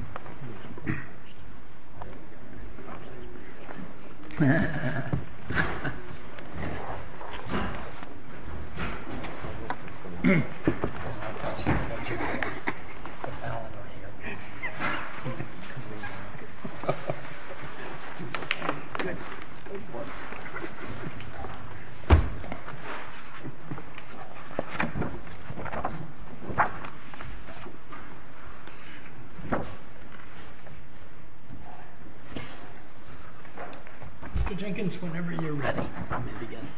umm Hehehe hahaha ahem ha ha ha ha good uh Mr. Jenkins, whenever you're ready, you may begin.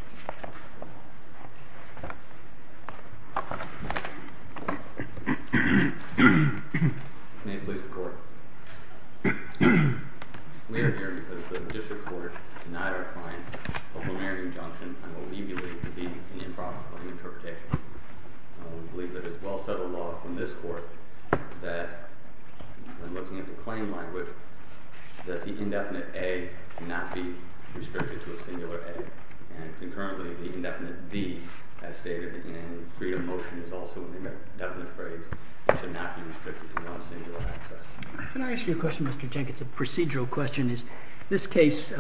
ahem May it please the court. ahem We are here because the district court denied our client a preliminary injunction on what we believe to be an improper interpretation. We believe that it is well settled law from this court that we're looking at the claim language that the indefinite A cannot be restricted to a singular A and concurrently the indefinite D as stated in Freedom Motion is also an indefinite phrase it should not be restricted to one singular access. Can I ask you a question Mr. Jenkins, a procedural question is this case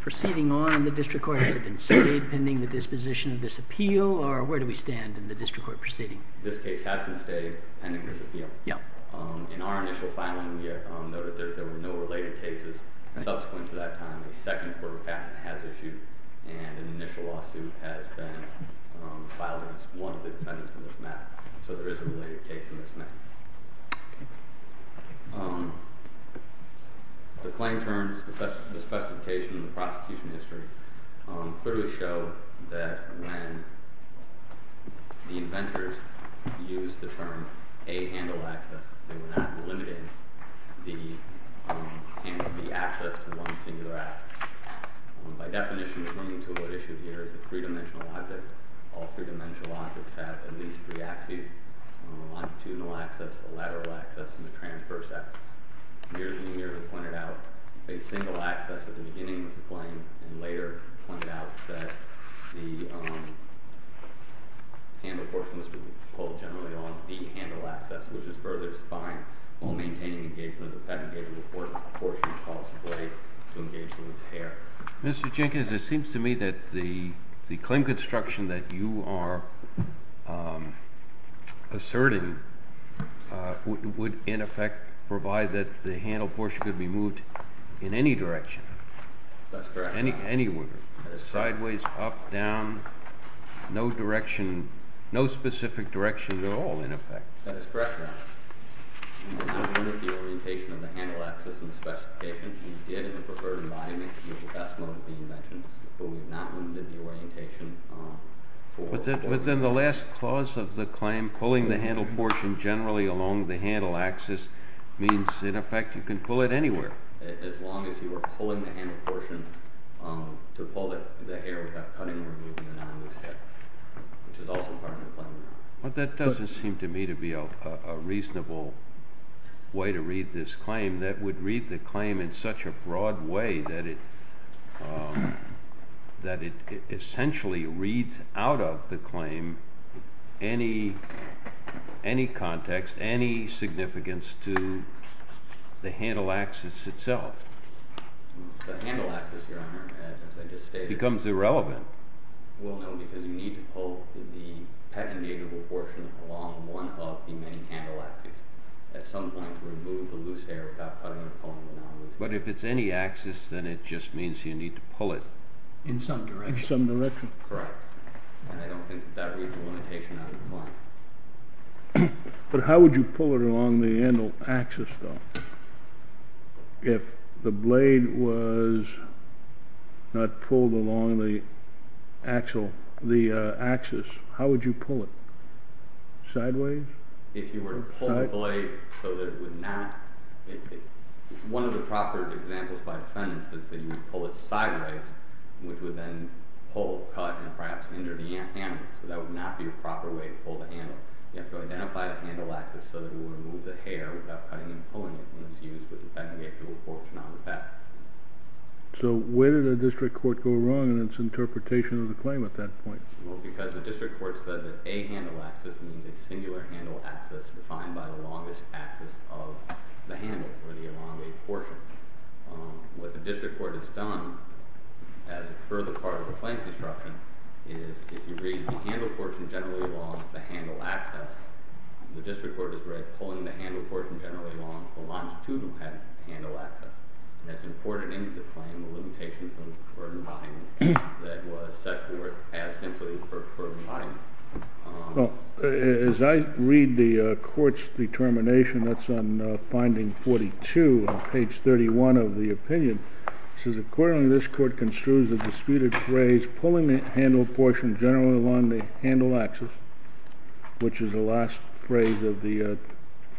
proceeding on in the district court has it been stayed pending the disposition of this appeal or where do we stand in the district court proceeding? This case has been stayed pending this appeal. In our initial filing we noted that there were no related cases subsequent to that time a second court of patent has issued and an initial lawsuit has been filed against one of the defendants in this matter so there is a related case in this matter. The claim terms, the specification in the prosecution history clearly show that when the inventors used the term A handle access they were not limiting the access to one singular access. By definition the claim to what is issued here is a three dimensional object all three dimensional objects have at least three axes a longitudinal access, a lateral access and a transverse access. Here we pointed out a single access at the beginning of the claim and later pointed out that the handle portion was pulled generally on the handle access which is further spying while maintaining engagement of the patent gave the court a portion of the policy right to engage in its hair. Mr. Jenkins it seems to me that the claim construction that you are asserting would in effect provide that the handle portion could be moved in any direction. That's correct. Anywhere. That is correct. Sideways, up, down, no direction, no specific direction at all in effect. That is correct, Your Honor. We have not limited the orientation of the handle access in the specification we did in the preferred environment with the best mode of the invention but we have not limited the orientation. But then the last clause of the claim pulling the handle portion generally along the handle access means in effect you can pull it anywhere. As long as you are pulling the handle portion to pull the hair without cutting or removing another loose hair which is also part of the claim. But that doesn't seem to me to be a reasonable way to read this claim that would read the claim in such a broad way that it essentially reads out of the claim any context, any significance to the handle access itself. The handle access, Your Honor, as I just stated. Becomes irrelevant. Well, no, because you need to pull the patent-engageable portion along one of the main handle access at some point to remove the loose hair without cutting or pulling the non-loose hair. But if it's any access then it just means you need to pull it. In some direction. In some direction. Correct. And I don't think that reads a limitation out of the claim. But how would you pull it along the handle access though? If the blade was not pulled along the actual, the access, how would you pull it? Sideways? If you were to pull the blade so that it would not, one of the proper examples by defendants is that you would pull it sideways which would then pull, cut, and perhaps injure the handle. So that would not be a proper way to pull the handle. You have to identify the handle access so that we would remove the hair without cutting and pulling it when it's used with the patent-engageable portion on the back. So where did the district court go wrong in its interpretation of the claim at that point? Well, because the district court said that a handle access means a singular handle access defined by the longest access of the handle or the elongated portion. What the district court has done as a further part of the claim construction is if you read the handle portion generally along the handle access, the district court has read pulling the handle portion generally along the longitudinal head handle access. And that's important in the claim, the limitation from the burden volume that was set forth as simply for money. As I read the court's determination, that's on finding 42 on page 31 of the opinion, it says, Accordingly, this court construes a disputed phrase, pulling the handle portion generally along the handle access, which is the last phrase of the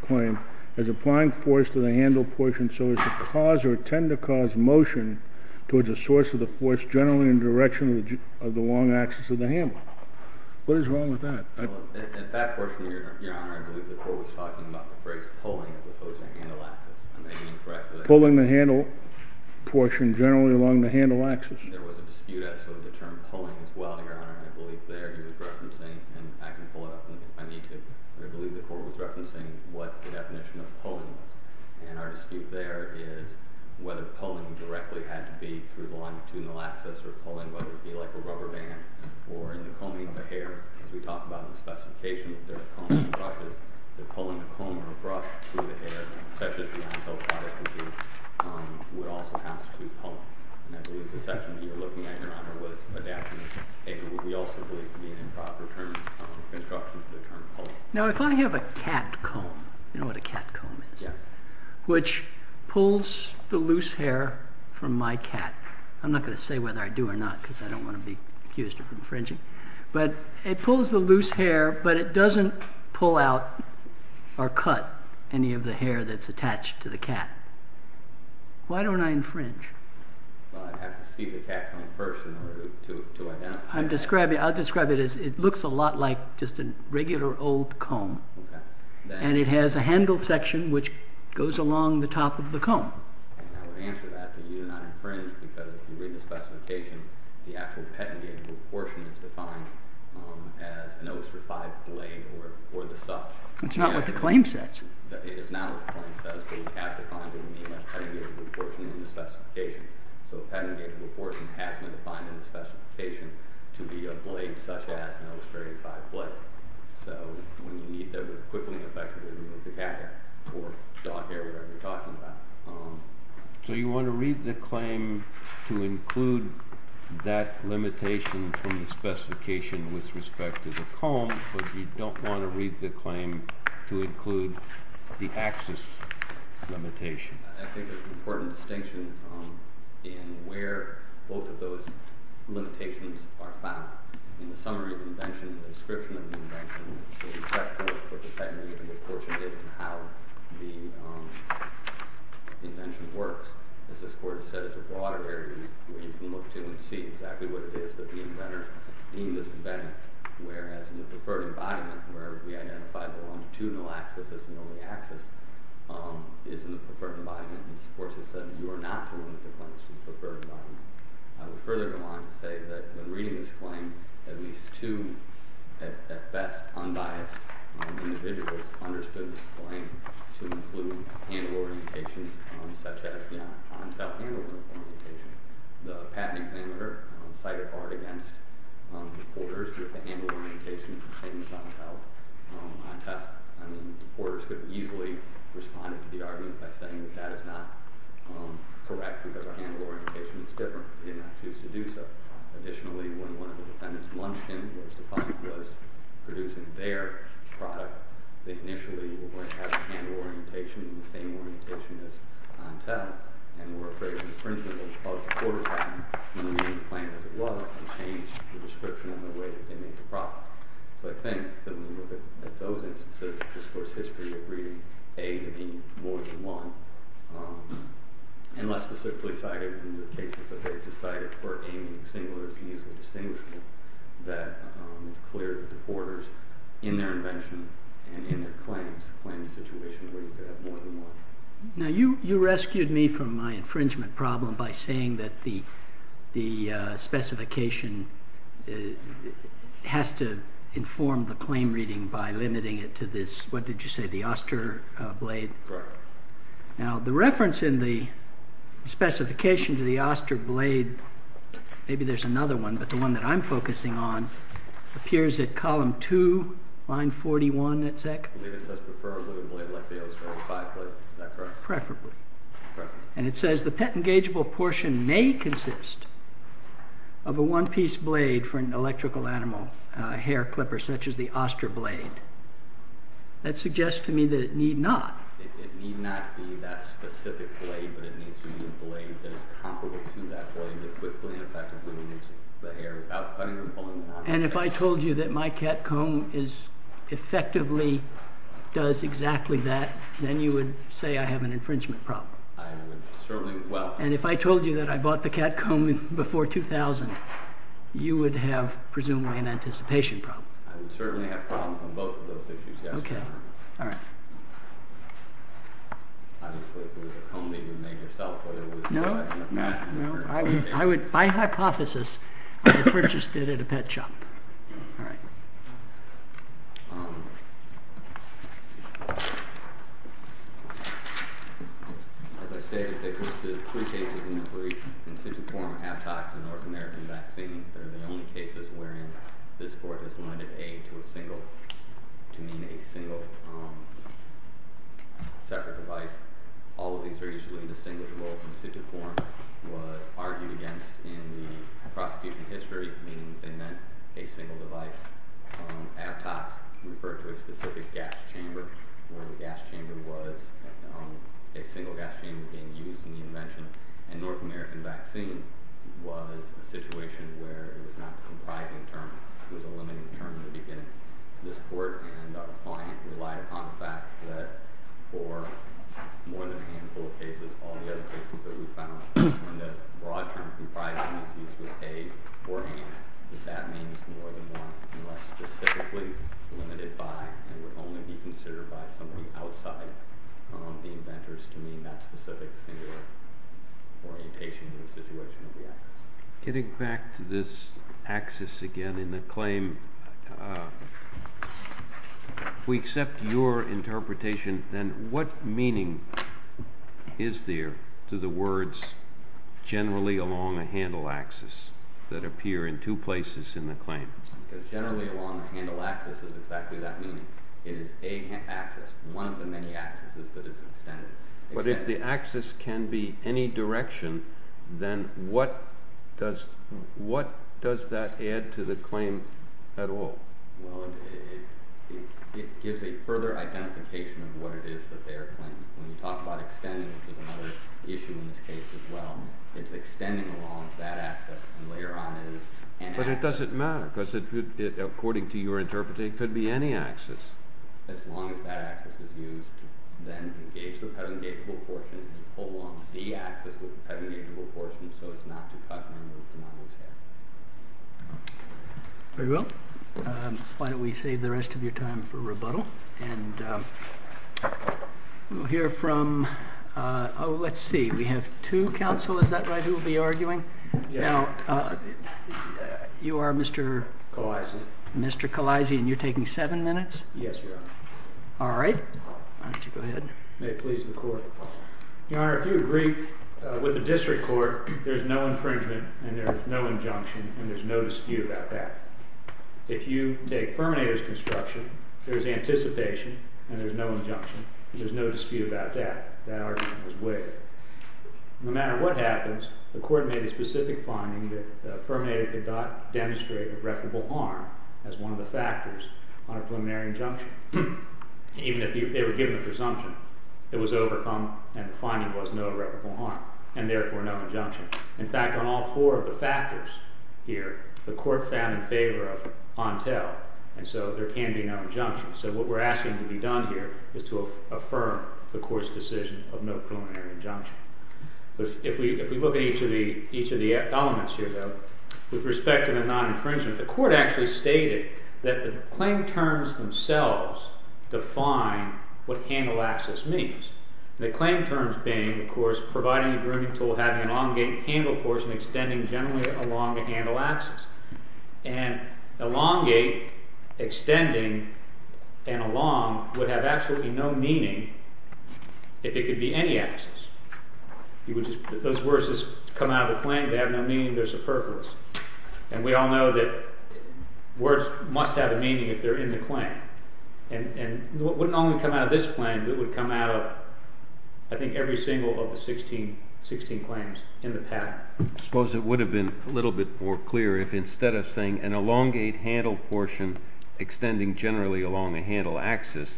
claim, as applying force to the handle portion so as to cause or tend to cause motion towards the source of the force generally in the direction of the long access of the handle. What is wrong with that? In that portion, Your Honor, I believe the court was talking about the phrase pulling the handle access. Am I being correct? Pulling the handle portion generally along the handle access. There was a dispute as to the term pulling as well, Your Honor. I believe there he was referencing, and I can pull it up if I need to. I believe the court was referencing what the definition of pulling was. And our dispute there is whether pulling directly had to be through the longitudinal access or pulling, whether it be like a rubber band or in the combing of the hair. As we talked about in the specification of the combs and brushes, the pulling of comb or brush through the hair, such as the handheld product would do, would also constitute pulling. And I believe the section that you were looking at, Your Honor, was adapting the paper, what we also believe to be an improper term construction for the term pulling. Now if I have a cat comb, you know what a cat comb is? Yes. Which pulls the loose hair from my cat. I'm not going to say whether I do or not because I don't want to be accused of infringing. But it pulls the loose hair, but it doesn't pull out or cut any of the hair that's attached to the cat. Why don't I infringe? Well, I'd have to see the cat comb first in order to identify. I'll describe it as it looks a lot like just a regular old comb. And it has a handle section which goes along the top of the comb. And I would answer that that you do not infringe because if you read the specification, the actual petting gauge proportion is defined as an ostrified blade or the such. It's not what the claim says. It is not what the claim says, but we have defined it in the English petting gauge proportion in the specification. So the petting gauge proportion has been defined in the specification to be a blade such as an ostrified blade. So when you need them to quickly and effectively remove the cat hair or dog hair, whatever you're talking about. So you want to read the claim to include that limitation from the specification with respect to the comb, but you don't want to read the claim to include the axis limitation. I think there's an important distinction in where both of those limitations are found. In the summary of the invention, the description of the invention, the receptacle for what the petting gauge proportion is and how the invention works. As this court has said, it's a broader area where you can look to and see exactly what it is that the inventor deemed as inventive. Whereas in the preferred embodiment where we identified the longitudinal axis as the only axis is in the preferred embodiment. This court has said you are not to limit the claims to the preferred embodiment. I would further go on to say that when reading this claim, at least two at best unbiased individuals understood this claim to include hand orientations, such as the on-tell handle orientation. The patent examiner cited Art against the porters with the handle orientation the same as on-tell. I mean, the porters could have easily responded to the argument by saying that that is not correct because our handle orientation is different. They did not choose to do so. Additionally, when one of the defendants, Munchkin, was producing their product, they initially were going to have a handle orientation the same orientation as on-tell and were afraid of infringement of the porter patent when reading the claim as it was and changed the description and the way that they made the product. So I think that when we look at those instances, this court's history of reading A to B more than one, and less specifically cited in the cases that they've decided, it's easily distinguishable that it's clear that the porters, in their invention and in their claims, claimed a situation where you could have more than one. Now you rescued me from my infringement problem by saying that the specification has to inform the claim reading by limiting it to this, what did you say, the Oster blade? Correct. Now the reference in the specification to the Oster blade, maybe there's another one, but the one that I'm focusing on, appears at column 2, line 41 at SEC. I think it says prefer a little blade like the Oster, a 5 blade, is that correct? Preferably. Correct. And it says the pet-engageable portion may consist of a one-piece blade for an electrical animal, a hair clipper such as the Oster blade. That suggests to me that it need not. It need not be that specific blade, but it needs to be a blade that is comparable to that blade that quickly and effectively removes the hair without cutting or pulling the hair. And if I told you that my cat comb effectively does exactly that, then you would say I have an infringement problem. I would certainly, well. And if I told you that I bought the cat comb before 2000, you would have presumably an anticipation problem. I would certainly have problems on both of those issues, yes. Okay. All right. Obviously, if it was a comb that you made yourself, whether it was... No, no, no. I would, by hypothesis, have purchased it at a pet shop. All right. As I stated, there are three cases in the brief. In situ form, half-tox and North American vaccine. They're the only cases wherein this court has limited aid to a single, to mean a single separate device. All of these are usually indistinguishable. In situ form was argued against in the prosecution history, meaning they meant a single device. Half-tox referred to a specific gas chamber, where the gas chamber was a single gas chamber being used in the invention. And North American vaccine was a situation where it was not the comprising term. It was a limiting term in the beginning. This court and our client relied upon the fact that for more than a handful of cases, all the other cases that we found, when the broad term comprising is used with aid or hand, that that means more than one unless specifically limited by and would only be considered by somebody outside the inventors to mean that specific singular. Orientation in the situation of the access. Getting back to this access again in the claim. We accept your interpretation. Then what meaning is there to the words generally along a handle access that appear in two places in the claim? Because generally along the handle access is exactly that meaning. It is a access. One of the many accesses that is extended. But if the access can be any direction, then what does that add to the claim at all? It gives a further identification of what it is that they are claiming. When you talk about extending, which is another issue in this case as well, it is extending along that access and later on it is an access. But it doesn't matter because according to your interpretation it could be any access. As long as that access is used to then engage the pedangageable portion along the access with the pedangageable portion so as not to cut member of the model's hair. Very well. Why don't we save the rest of your time for rebuttal. Let's see. We have two counsel. Is that right? Who will be arguing? Yes. You are Mr.? Khaleesi. Mr. Khaleesi and you are taking seven minutes? Yes, Your Honor. All right. Why don't you go ahead. May it please the court. Your Honor, if you agree with the district court, there is no infringement and there is no injunction and there is no dispute about that. If you take Ferminator's construction, there is anticipation and there is no injunction. There is no dispute about that. That argument was waived. No matter what happens, the court made a specific finding that Ferminator could not demonstrate irreparable harm as one of the factors on a preliminary injunction. Even if they were given a presumption, it was overcome and the finding was no irreparable harm and therefore no injunction. In fact, on all four of the factors here, the court found in favor of on tell and so there can be no injunction. So what we are asking to be done here is to affirm the court's decision of no preliminary injunction. If we look at each of the elements here, though, with respect to the non-infringement, the court actually stated that the claim terms themselves define what handle access means. The claim terms being, of course, providing a grooming tool, having an elongated handle portion, extending generally along the handle axis. And elongate, extending, and along would have absolutely no meaning if it could be any axis. Those words just come out of the claim. They have no meaning. They are superfluous. And we all know that words must have a meaning if they are in the claim. And it wouldn't only come out of this claim. It would come out of, I think, every single of the 16 claims in the pattern. I suppose it would have been a little bit more clear if instead of saying an elongate handle portion extending generally along a handle axis,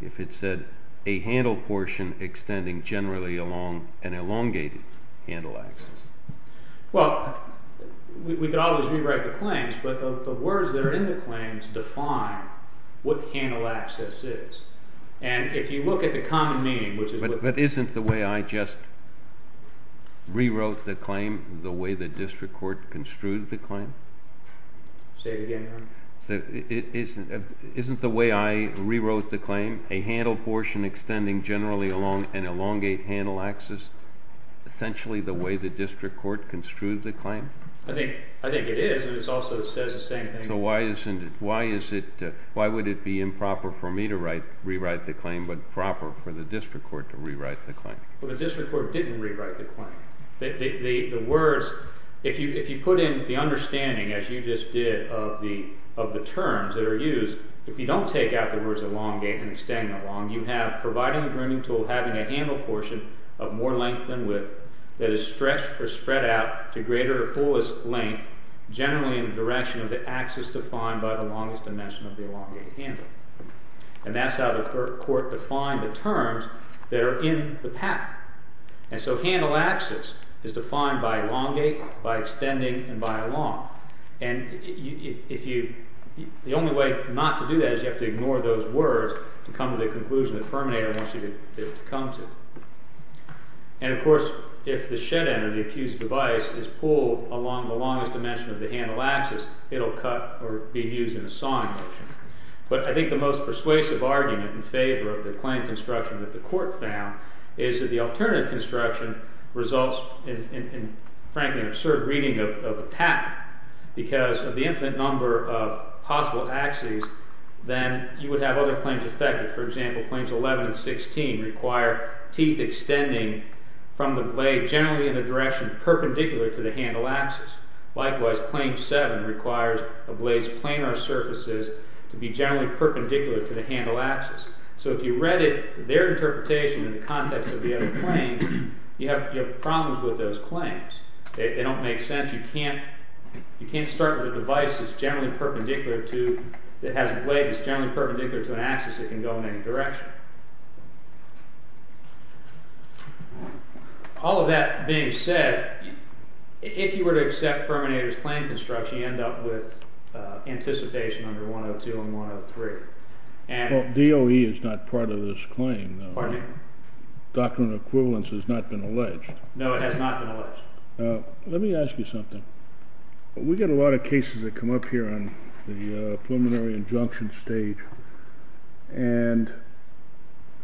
if it said a handle portion extending generally along an elongated handle axis. Well, we could always rewrite the claims, but the words that are in the claims define what handle access is. And if you look at the common meaning, which is what… But isn't the way I just rewrote the claim the way the district court construed the claim? Say it again, Your Honor. Isn't the way I rewrote the claim a handle portion extending generally along an elongate handle axis essentially the way the district court construed the claim? I think it is, and it also says the same thing. Why would it be improper for me to rewrite the claim but proper for the district court to rewrite the claim? Well, the district court didn't rewrite the claim. The words, if you put in the understanding, as you just did, of the terms that are used, if you don't take out the words elongate and extend along, you have providing a grooming tool having a handle portion of more length than width that is stretched or spread out to greater or fullest length generally in the direction of the axis defined by the longest dimension of the elongate handle. And that's how the court defined the terms that are in the pattern. And so handle access is defined by elongate, by extending, and by along. And the only way not to do that is you have to ignore those words to come to the conclusion that Fermanator wants you to come to. And, of course, if the shed end or the accused device is pulled along the longest dimension of the handle axis, it will cut or be used in a sawing motion. But I think the most persuasive argument in favor of the claim construction that the court found is that the alternative construction results in, frankly, an absurd reading of the pattern because of the infinite number of possible axes, then you would have other claims affected. For example, Claims 11 and 16 require teeth extending from the blade generally in the direction perpendicular to the handle axis. Likewise, Claim 7 requires a blade's planar surfaces to be generally perpendicular to the handle axis. So if you read their interpretation in the context of the other claims, you have problems with those claims. They don't make sense. You can't start with a device that has a blade that's generally perpendicular to an axis that can go in any direction. All of that being said, if you were to accept Fermanator's claim construction, you end up with anticipation under 102 and 103. Well, DOE is not part of this claim. Pardon me? Doctrine of equivalence has not been alleged. No, it has not been alleged. Let me ask you something. We get a lot of cases that come up here on the preliminary injunction stage, and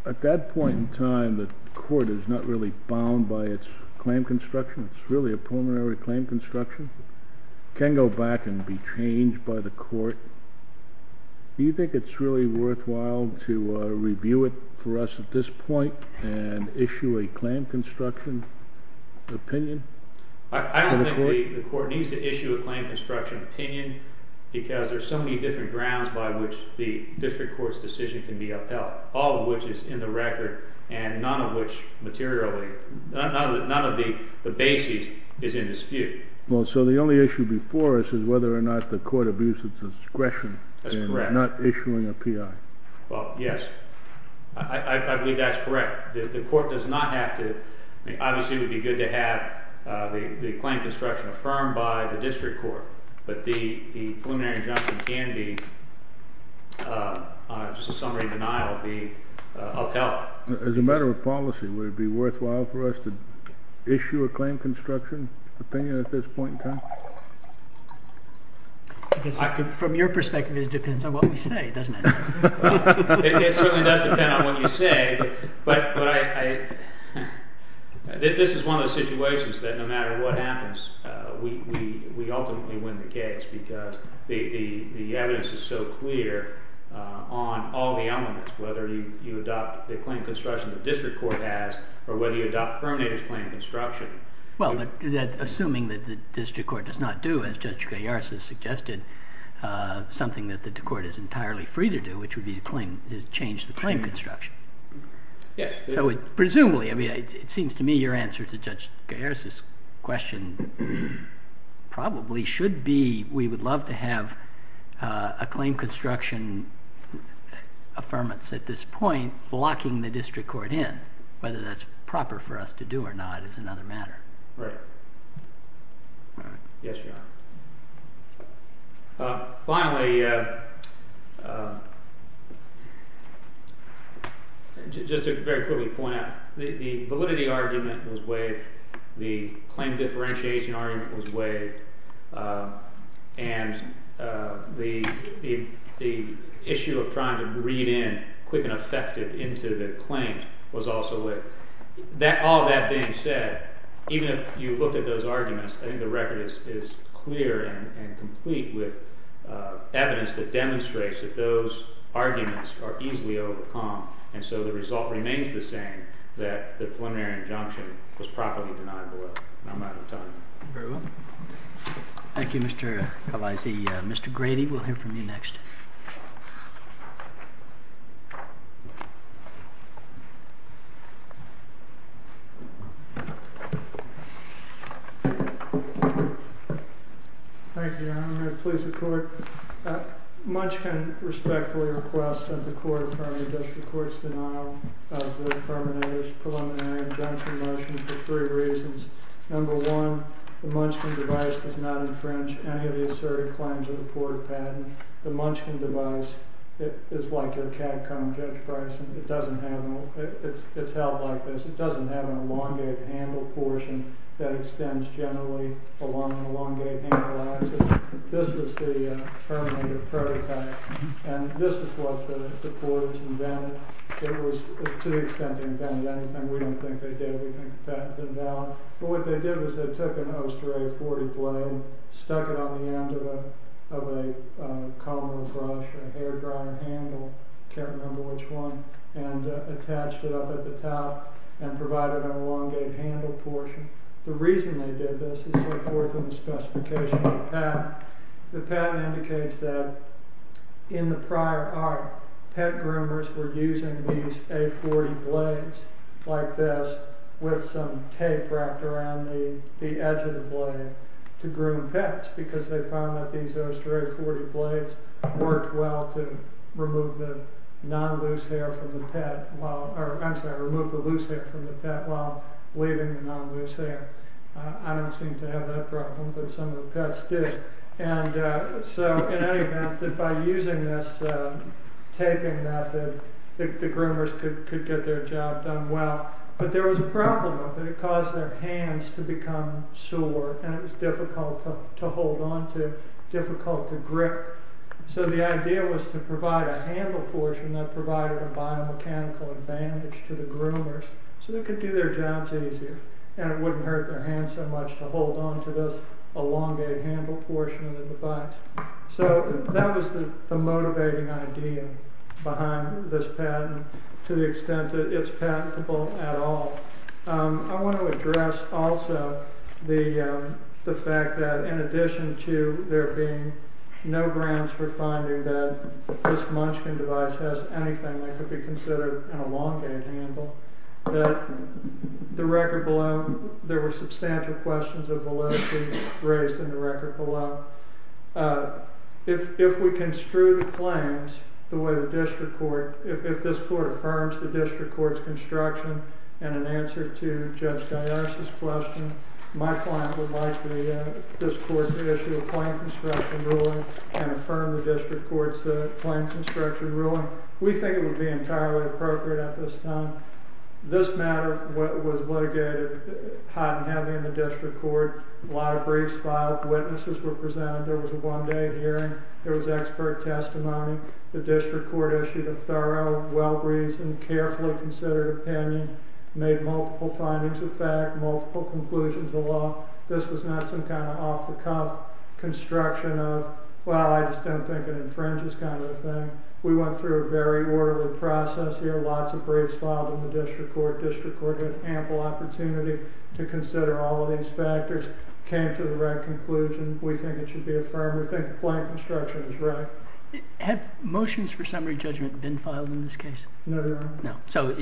at that point in time, the court is not really bound by its claim construction. It's really a preliminary claim construction. It can go back and be changed by the court. Do you think it's really worthwhile to review it for us at this point and issue a claim construction opinion? I don't think the court needs to issue a claim construction opinion because there are so many different grounds by which the district court's decision can be upheld, all of which is in the record and none of which materially, none of the bases is in dispute. Well, so the only issue before us is whether or not the court abuses discretion in not issuing a PI. That's correct. Well, yes. I believe that's correct. The court does not have to. Obviously, it would be good to have the claim construction affirmed by the district court, but the preliminary injunction can be, just a summary denial, be upheld. As a matter of policy, would it be worthwhile for us to issue a claim construction opinion at this point in time? From your perspective, it depends on what we say, doesn't it? It certainly does depend on what you say, but this is one of those situations that no matter what happens, we ultimately win the case because the evidence is so clear on all the elements, whether you adopt the claim construction the district court has or whether you adopt Fermanator's claim construction. Well, assuming that the district court does not do, as Judge Gallarza suggested, something that the court is entirely free to do, which would be to change the claim construction. Yes. Presumably. It seems to me your answer to Judge Gallarza's question probably should be we would love to have a claim construction affirmance at this point blocking the district court in, whether that's proper for us to do or not is another matter. Right. Yes, Your Honor. Finally, just to very quickly point out, the validity argument was waived. The claim differentiation argument was waived, and the issue of trying to read in quick and effective into the claims was also waived. All that being said, even if you look at those arguments, I think the record is clear and complete with evidence that demonstrates that those arguments are easily overcome, and so the result remains the same, that the preliminary injunction was properly denied below. And I'm out of time. Very well. Thank you, Mr. Gallarza. Mr. Grady, we'll hear from you next. Thank you, Your Honor. Please, the court. Munchkin respectfully requests that the court affirm the district court's denial of the terminator's preliminary injunction motion for three reasons. Number one, the Munchkin device does not infringe any of the assertive claims of the Porter patent. The Munchkin device is like your CADCOM, Judge Bryson. It's held like this. It doesn't have an elongated handle portion that extends generally along an elongated handle axis. This is the terminator prototype, and this is what the Porters invented. It was, to the extent they invented anything, we don't think they did. We think the patent's invalid. But what they did was they took an Osteray 40 blade, stuck it on the end of a comb or a brush, a hairdryer handle, can't remember which one, and attached it up at the top and provided an elongated handle portion. The reason they did this is so forth in the specification of the patent. The patent indicates that in the prior art, pet groomers were using these A40 blades like this with some tape wrapped around the edge of the blade to groom pets because they found that these Osteray 40 blades worked well to remove the non-loose hair from the pet while leaving the non-loose hair. I don't seem to have that problem, but some of the pets did. So, in any event, by using this taping method, the groomers could get their job done well. But there was a problem with it. It caused their hands to become sore and it was difficult to hold on to, difficult to grip. So the idea was to provide a handle portion that provided a biomechanical advantage to the groomers so they could do their jobs easier. And it wouldn't hurt their hands so much to hold on to this elongated handle portion of the device. So that was the motivating idea behind this patent to the extent that it's patentable at all. I want to address also the fact that in addition to there being no grounds for finding that this Munchkin device has anything that could be considered an elongated handle, that the record below, there were substantial questions of validity raised in the record below. If we construe the claims the way the district court, if this court affirms the district court's construction, and in answer to Judge Gaiare's question, my client would like this court to issue a claim construction ruling and affirm the district court's claim construction ruling. We think it would be entirely appropriate at this time. This matter was litigated hot and heavy in the district court. A lot of briefs filed. Witnesses were presented. There was a one-day hearing. There was expert testimony. The district court issued a thorough, well-reasoned, carefully considered opinion, made multiple findings of fact, multiple conclusions of law. This was not some kind of off-the-cuff construction of, well, I just don't think it infringes kind of a thing. We went through a very orderly process here. Lots of briefs filed in the district court. District court had ample opportunity to consider all of these factors, came to the right conclusion. We think it should be affirmed. We think the claim construction is right. Have motions for summary judgment been filed in this case? No, Your Honor. No. So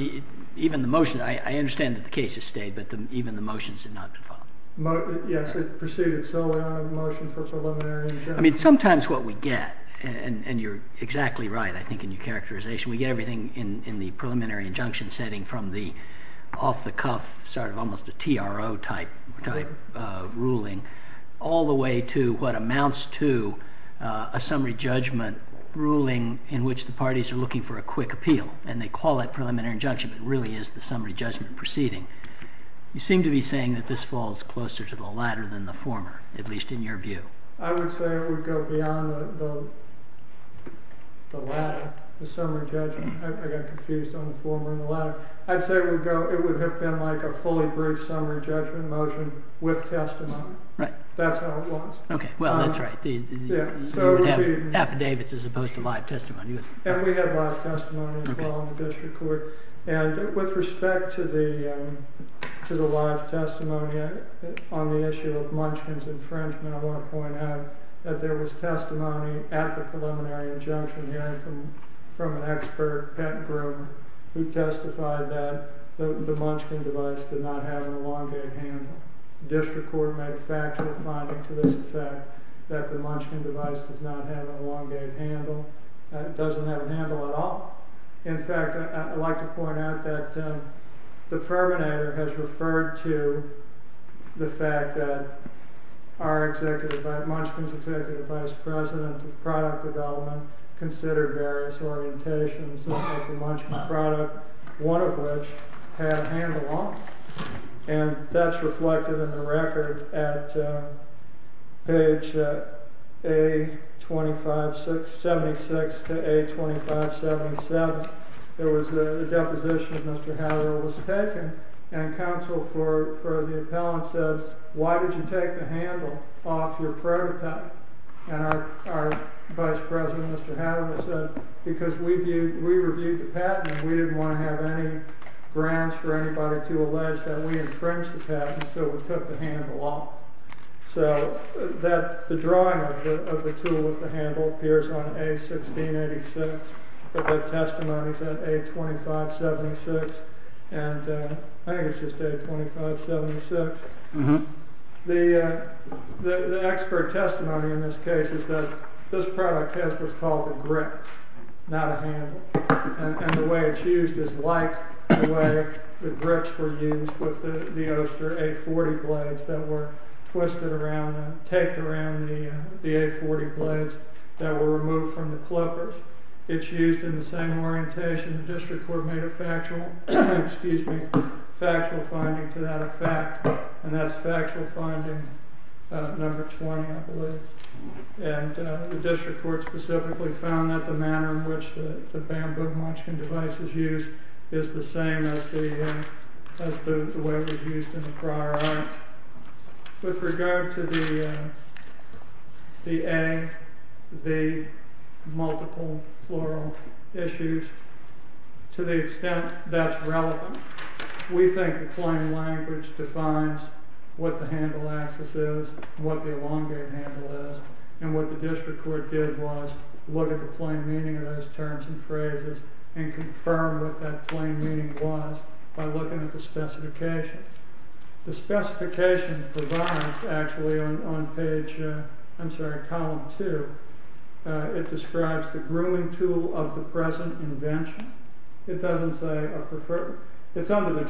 even the motion, I understand that the case has stayed, but even the motions have not been filed. Yes, it proceeded solely on a motion for preliminary judgment. I mean, sometimes what we get, and you're exactly right, I think, in your characterization, we get everything in the preliminary injunction setting from the off-the-cuff, sort of almost a TRO-type ruling all the way to what amounts to a summary judgment ruling in which the parties are looking for a quick appeal, and they call that preliminary injunction, but it really is the summary judgment proceeding. You seem to be saying that this falls closer to the latter than the former, at least in your view. I would say it would go beyond the latter, the summary judgment. I got confused on the former and the latter. I'd say it would have been like a fully brief summary judgment motion with testimony. Right. That's how it was. Well, that's right. You would have affidavits as opposed to live testimony. And we have live testimony as well in the district court. And with respect to the live testimony on the issue of Munchkin's infringement, I want to point out that there was testimony at the preliminary injunction hearing from an expert, Pat Groom, who testified that the Munchkin device did not have an elongated handle. The district court made a factual finding to this effect that the Munchkin device does not have an elongated handle. It doesn't have a handle at all. In fact, I'd like to point out that the firminator has referred to the fact that our executive, Munchkin's executive vice president of product development, considered various orientations of the Munchkin product, one of which had a handle on it. And that's reflected in the record at page A2576 to A2577. There was a deposition that Mr. Hadley was taking, and counsel for the appellant said, why did you take the handle off your prototype? And our vice president, Mr. Hadley, said, because we reviewed the patent, and we didn't want to have any grounds for anybody to allege that we infringed the patent, so we took the handle off. So the drawing of the tool with the handle appears on A1686, but the testimony's at A2576, and I think it's just A2576. The expert testimony in this case is that this product was called a grip, not a handle. And the way it's used is like the way the grips were used with the Oster A40 blades that were twisted around, taped around the A40 blades that were removed from the clippers. It's used in the same orientation. The district court made a factual finding to that effect, and that's factual finding number 20, I believe. And the district court specifically found that the manner in which the bamboo munchkin device is used is the same as the way it was used in the prior act. With regard to the A, the multiple plural issues, to the extent that's relevant, we think the plain language defines what the handle axis is, what the elongated handle is, and what the district court did was look at the plain meaning of those terms and phrases and confirm what that plain meaning was by looking at the specification. The specification provides, actually, on page, I'm sorry, column 2, it describes the grooming tool of the present invention. It doesn't say a preferred, it's under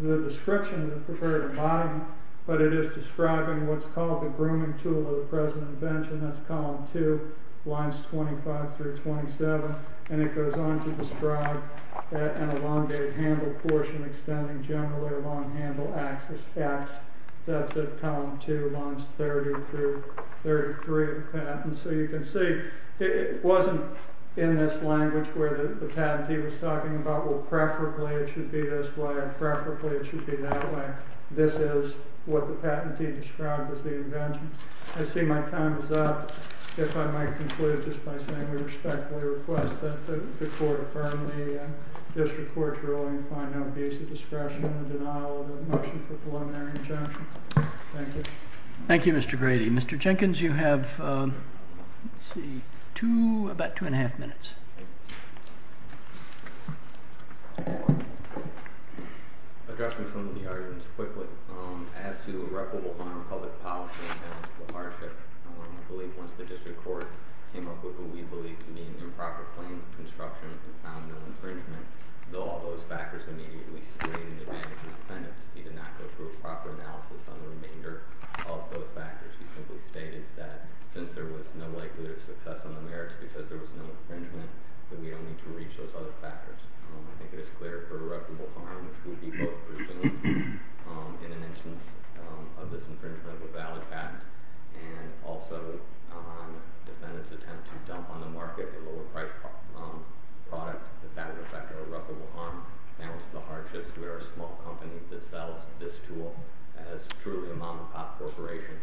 the description of the preferred embodiment, but it is describing what's called the grooming tool of the present invention. That's column 2, lines 25 through 27, and it goes on to describe an elongated handle portion extending generally along handle axis X. That's at column 2, lines 30 through 33 of the patent. So you can see it wasn't in this language where the patentee was talking about, well, preferably it should be this way or preferably it should be that way. This is what the patentee described as the invention. I see my time is up. If I might conclude just by saying we respectfully request that the court affirm the district court's ruling and find no abuse of discretion in the denial of the motion for preliminary injunction. Thank you. Thank you, Mr. Grady. Mr. Jenkins, you have, let's see, two, about two and a half minutes. Addressing some of the arguments quickly, as to irreparable harm, public policy, and balance of the hardship, I believe once the district court came up with what we believe to be an improper claim construction and found no infringement, though all those factors immediately slated the advantage of defendants, he did not go through a proper analysis on the remainder of those factors. He simply stated that since there was no likelihood of success on the merits because there was no infringement, that we don't need to reach those other factors. I think it is clear for irreparable harm, which would be both presumed in an instance of this infringement of a valid fact and also on defendants' attempt to dump on the market a lower-priced product, that that would affect irreparable harm, balance of the hardships, where a small company that sells this tool as truly a mom-and-pop corporation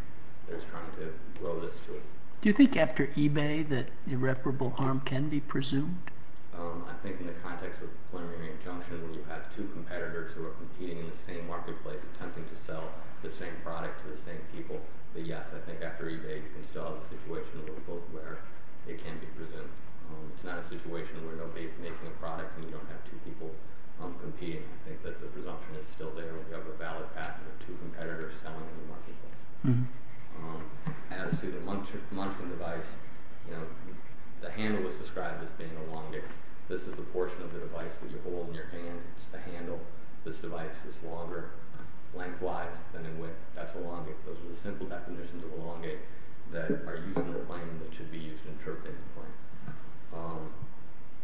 is trying to grow this tool. Do you think after eBay that irreparable harm can be presumed? I think in the context of preliminary injunction, when you have two competitors who are competing in the same marketplace attempting to sell the same product to the same people, that yes, I think after eBay you can still have a situation where it can be presumed. It's not a situation where nobody is making a product and you don't have two people competing. I think that the presumption is still there that we have a valid patent of two competitors selling in the marketplace. As to the munching device, the handle was described as being elongated. This is the portion of the device that you hold in your hand. It's the handle. This device is longer lengthwise than in width. That's elongate. Those are the simple definitions of elongate that are used in the claim and that should be used in interpreting the claim.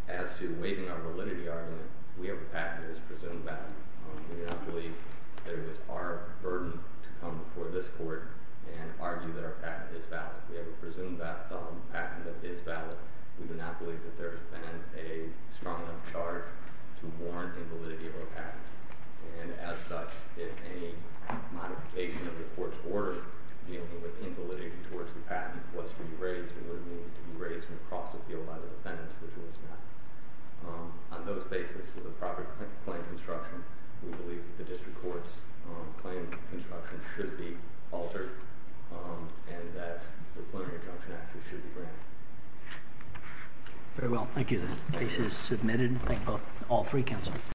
As to waiving our validity argument, we have a patent that is presumed valid. We do not believe that it was our burden to come before this court and argue that our patent is valid. We have a presumed patent that is valid. We do not believe that there has been a strong enough charge to warrant invalidity of our patent. As such, if any modification of the court's order dealing with invalidity towards the patent was to be raised, it would have needed to be raised from across the field by the defendants, which it was not. On those basis, with the proper claim construction, we believe that the district court's claim construction should be altered and that the plenary injunction actually should be granted. Very well. Thank you. The case is submitted. Thank all three counsel.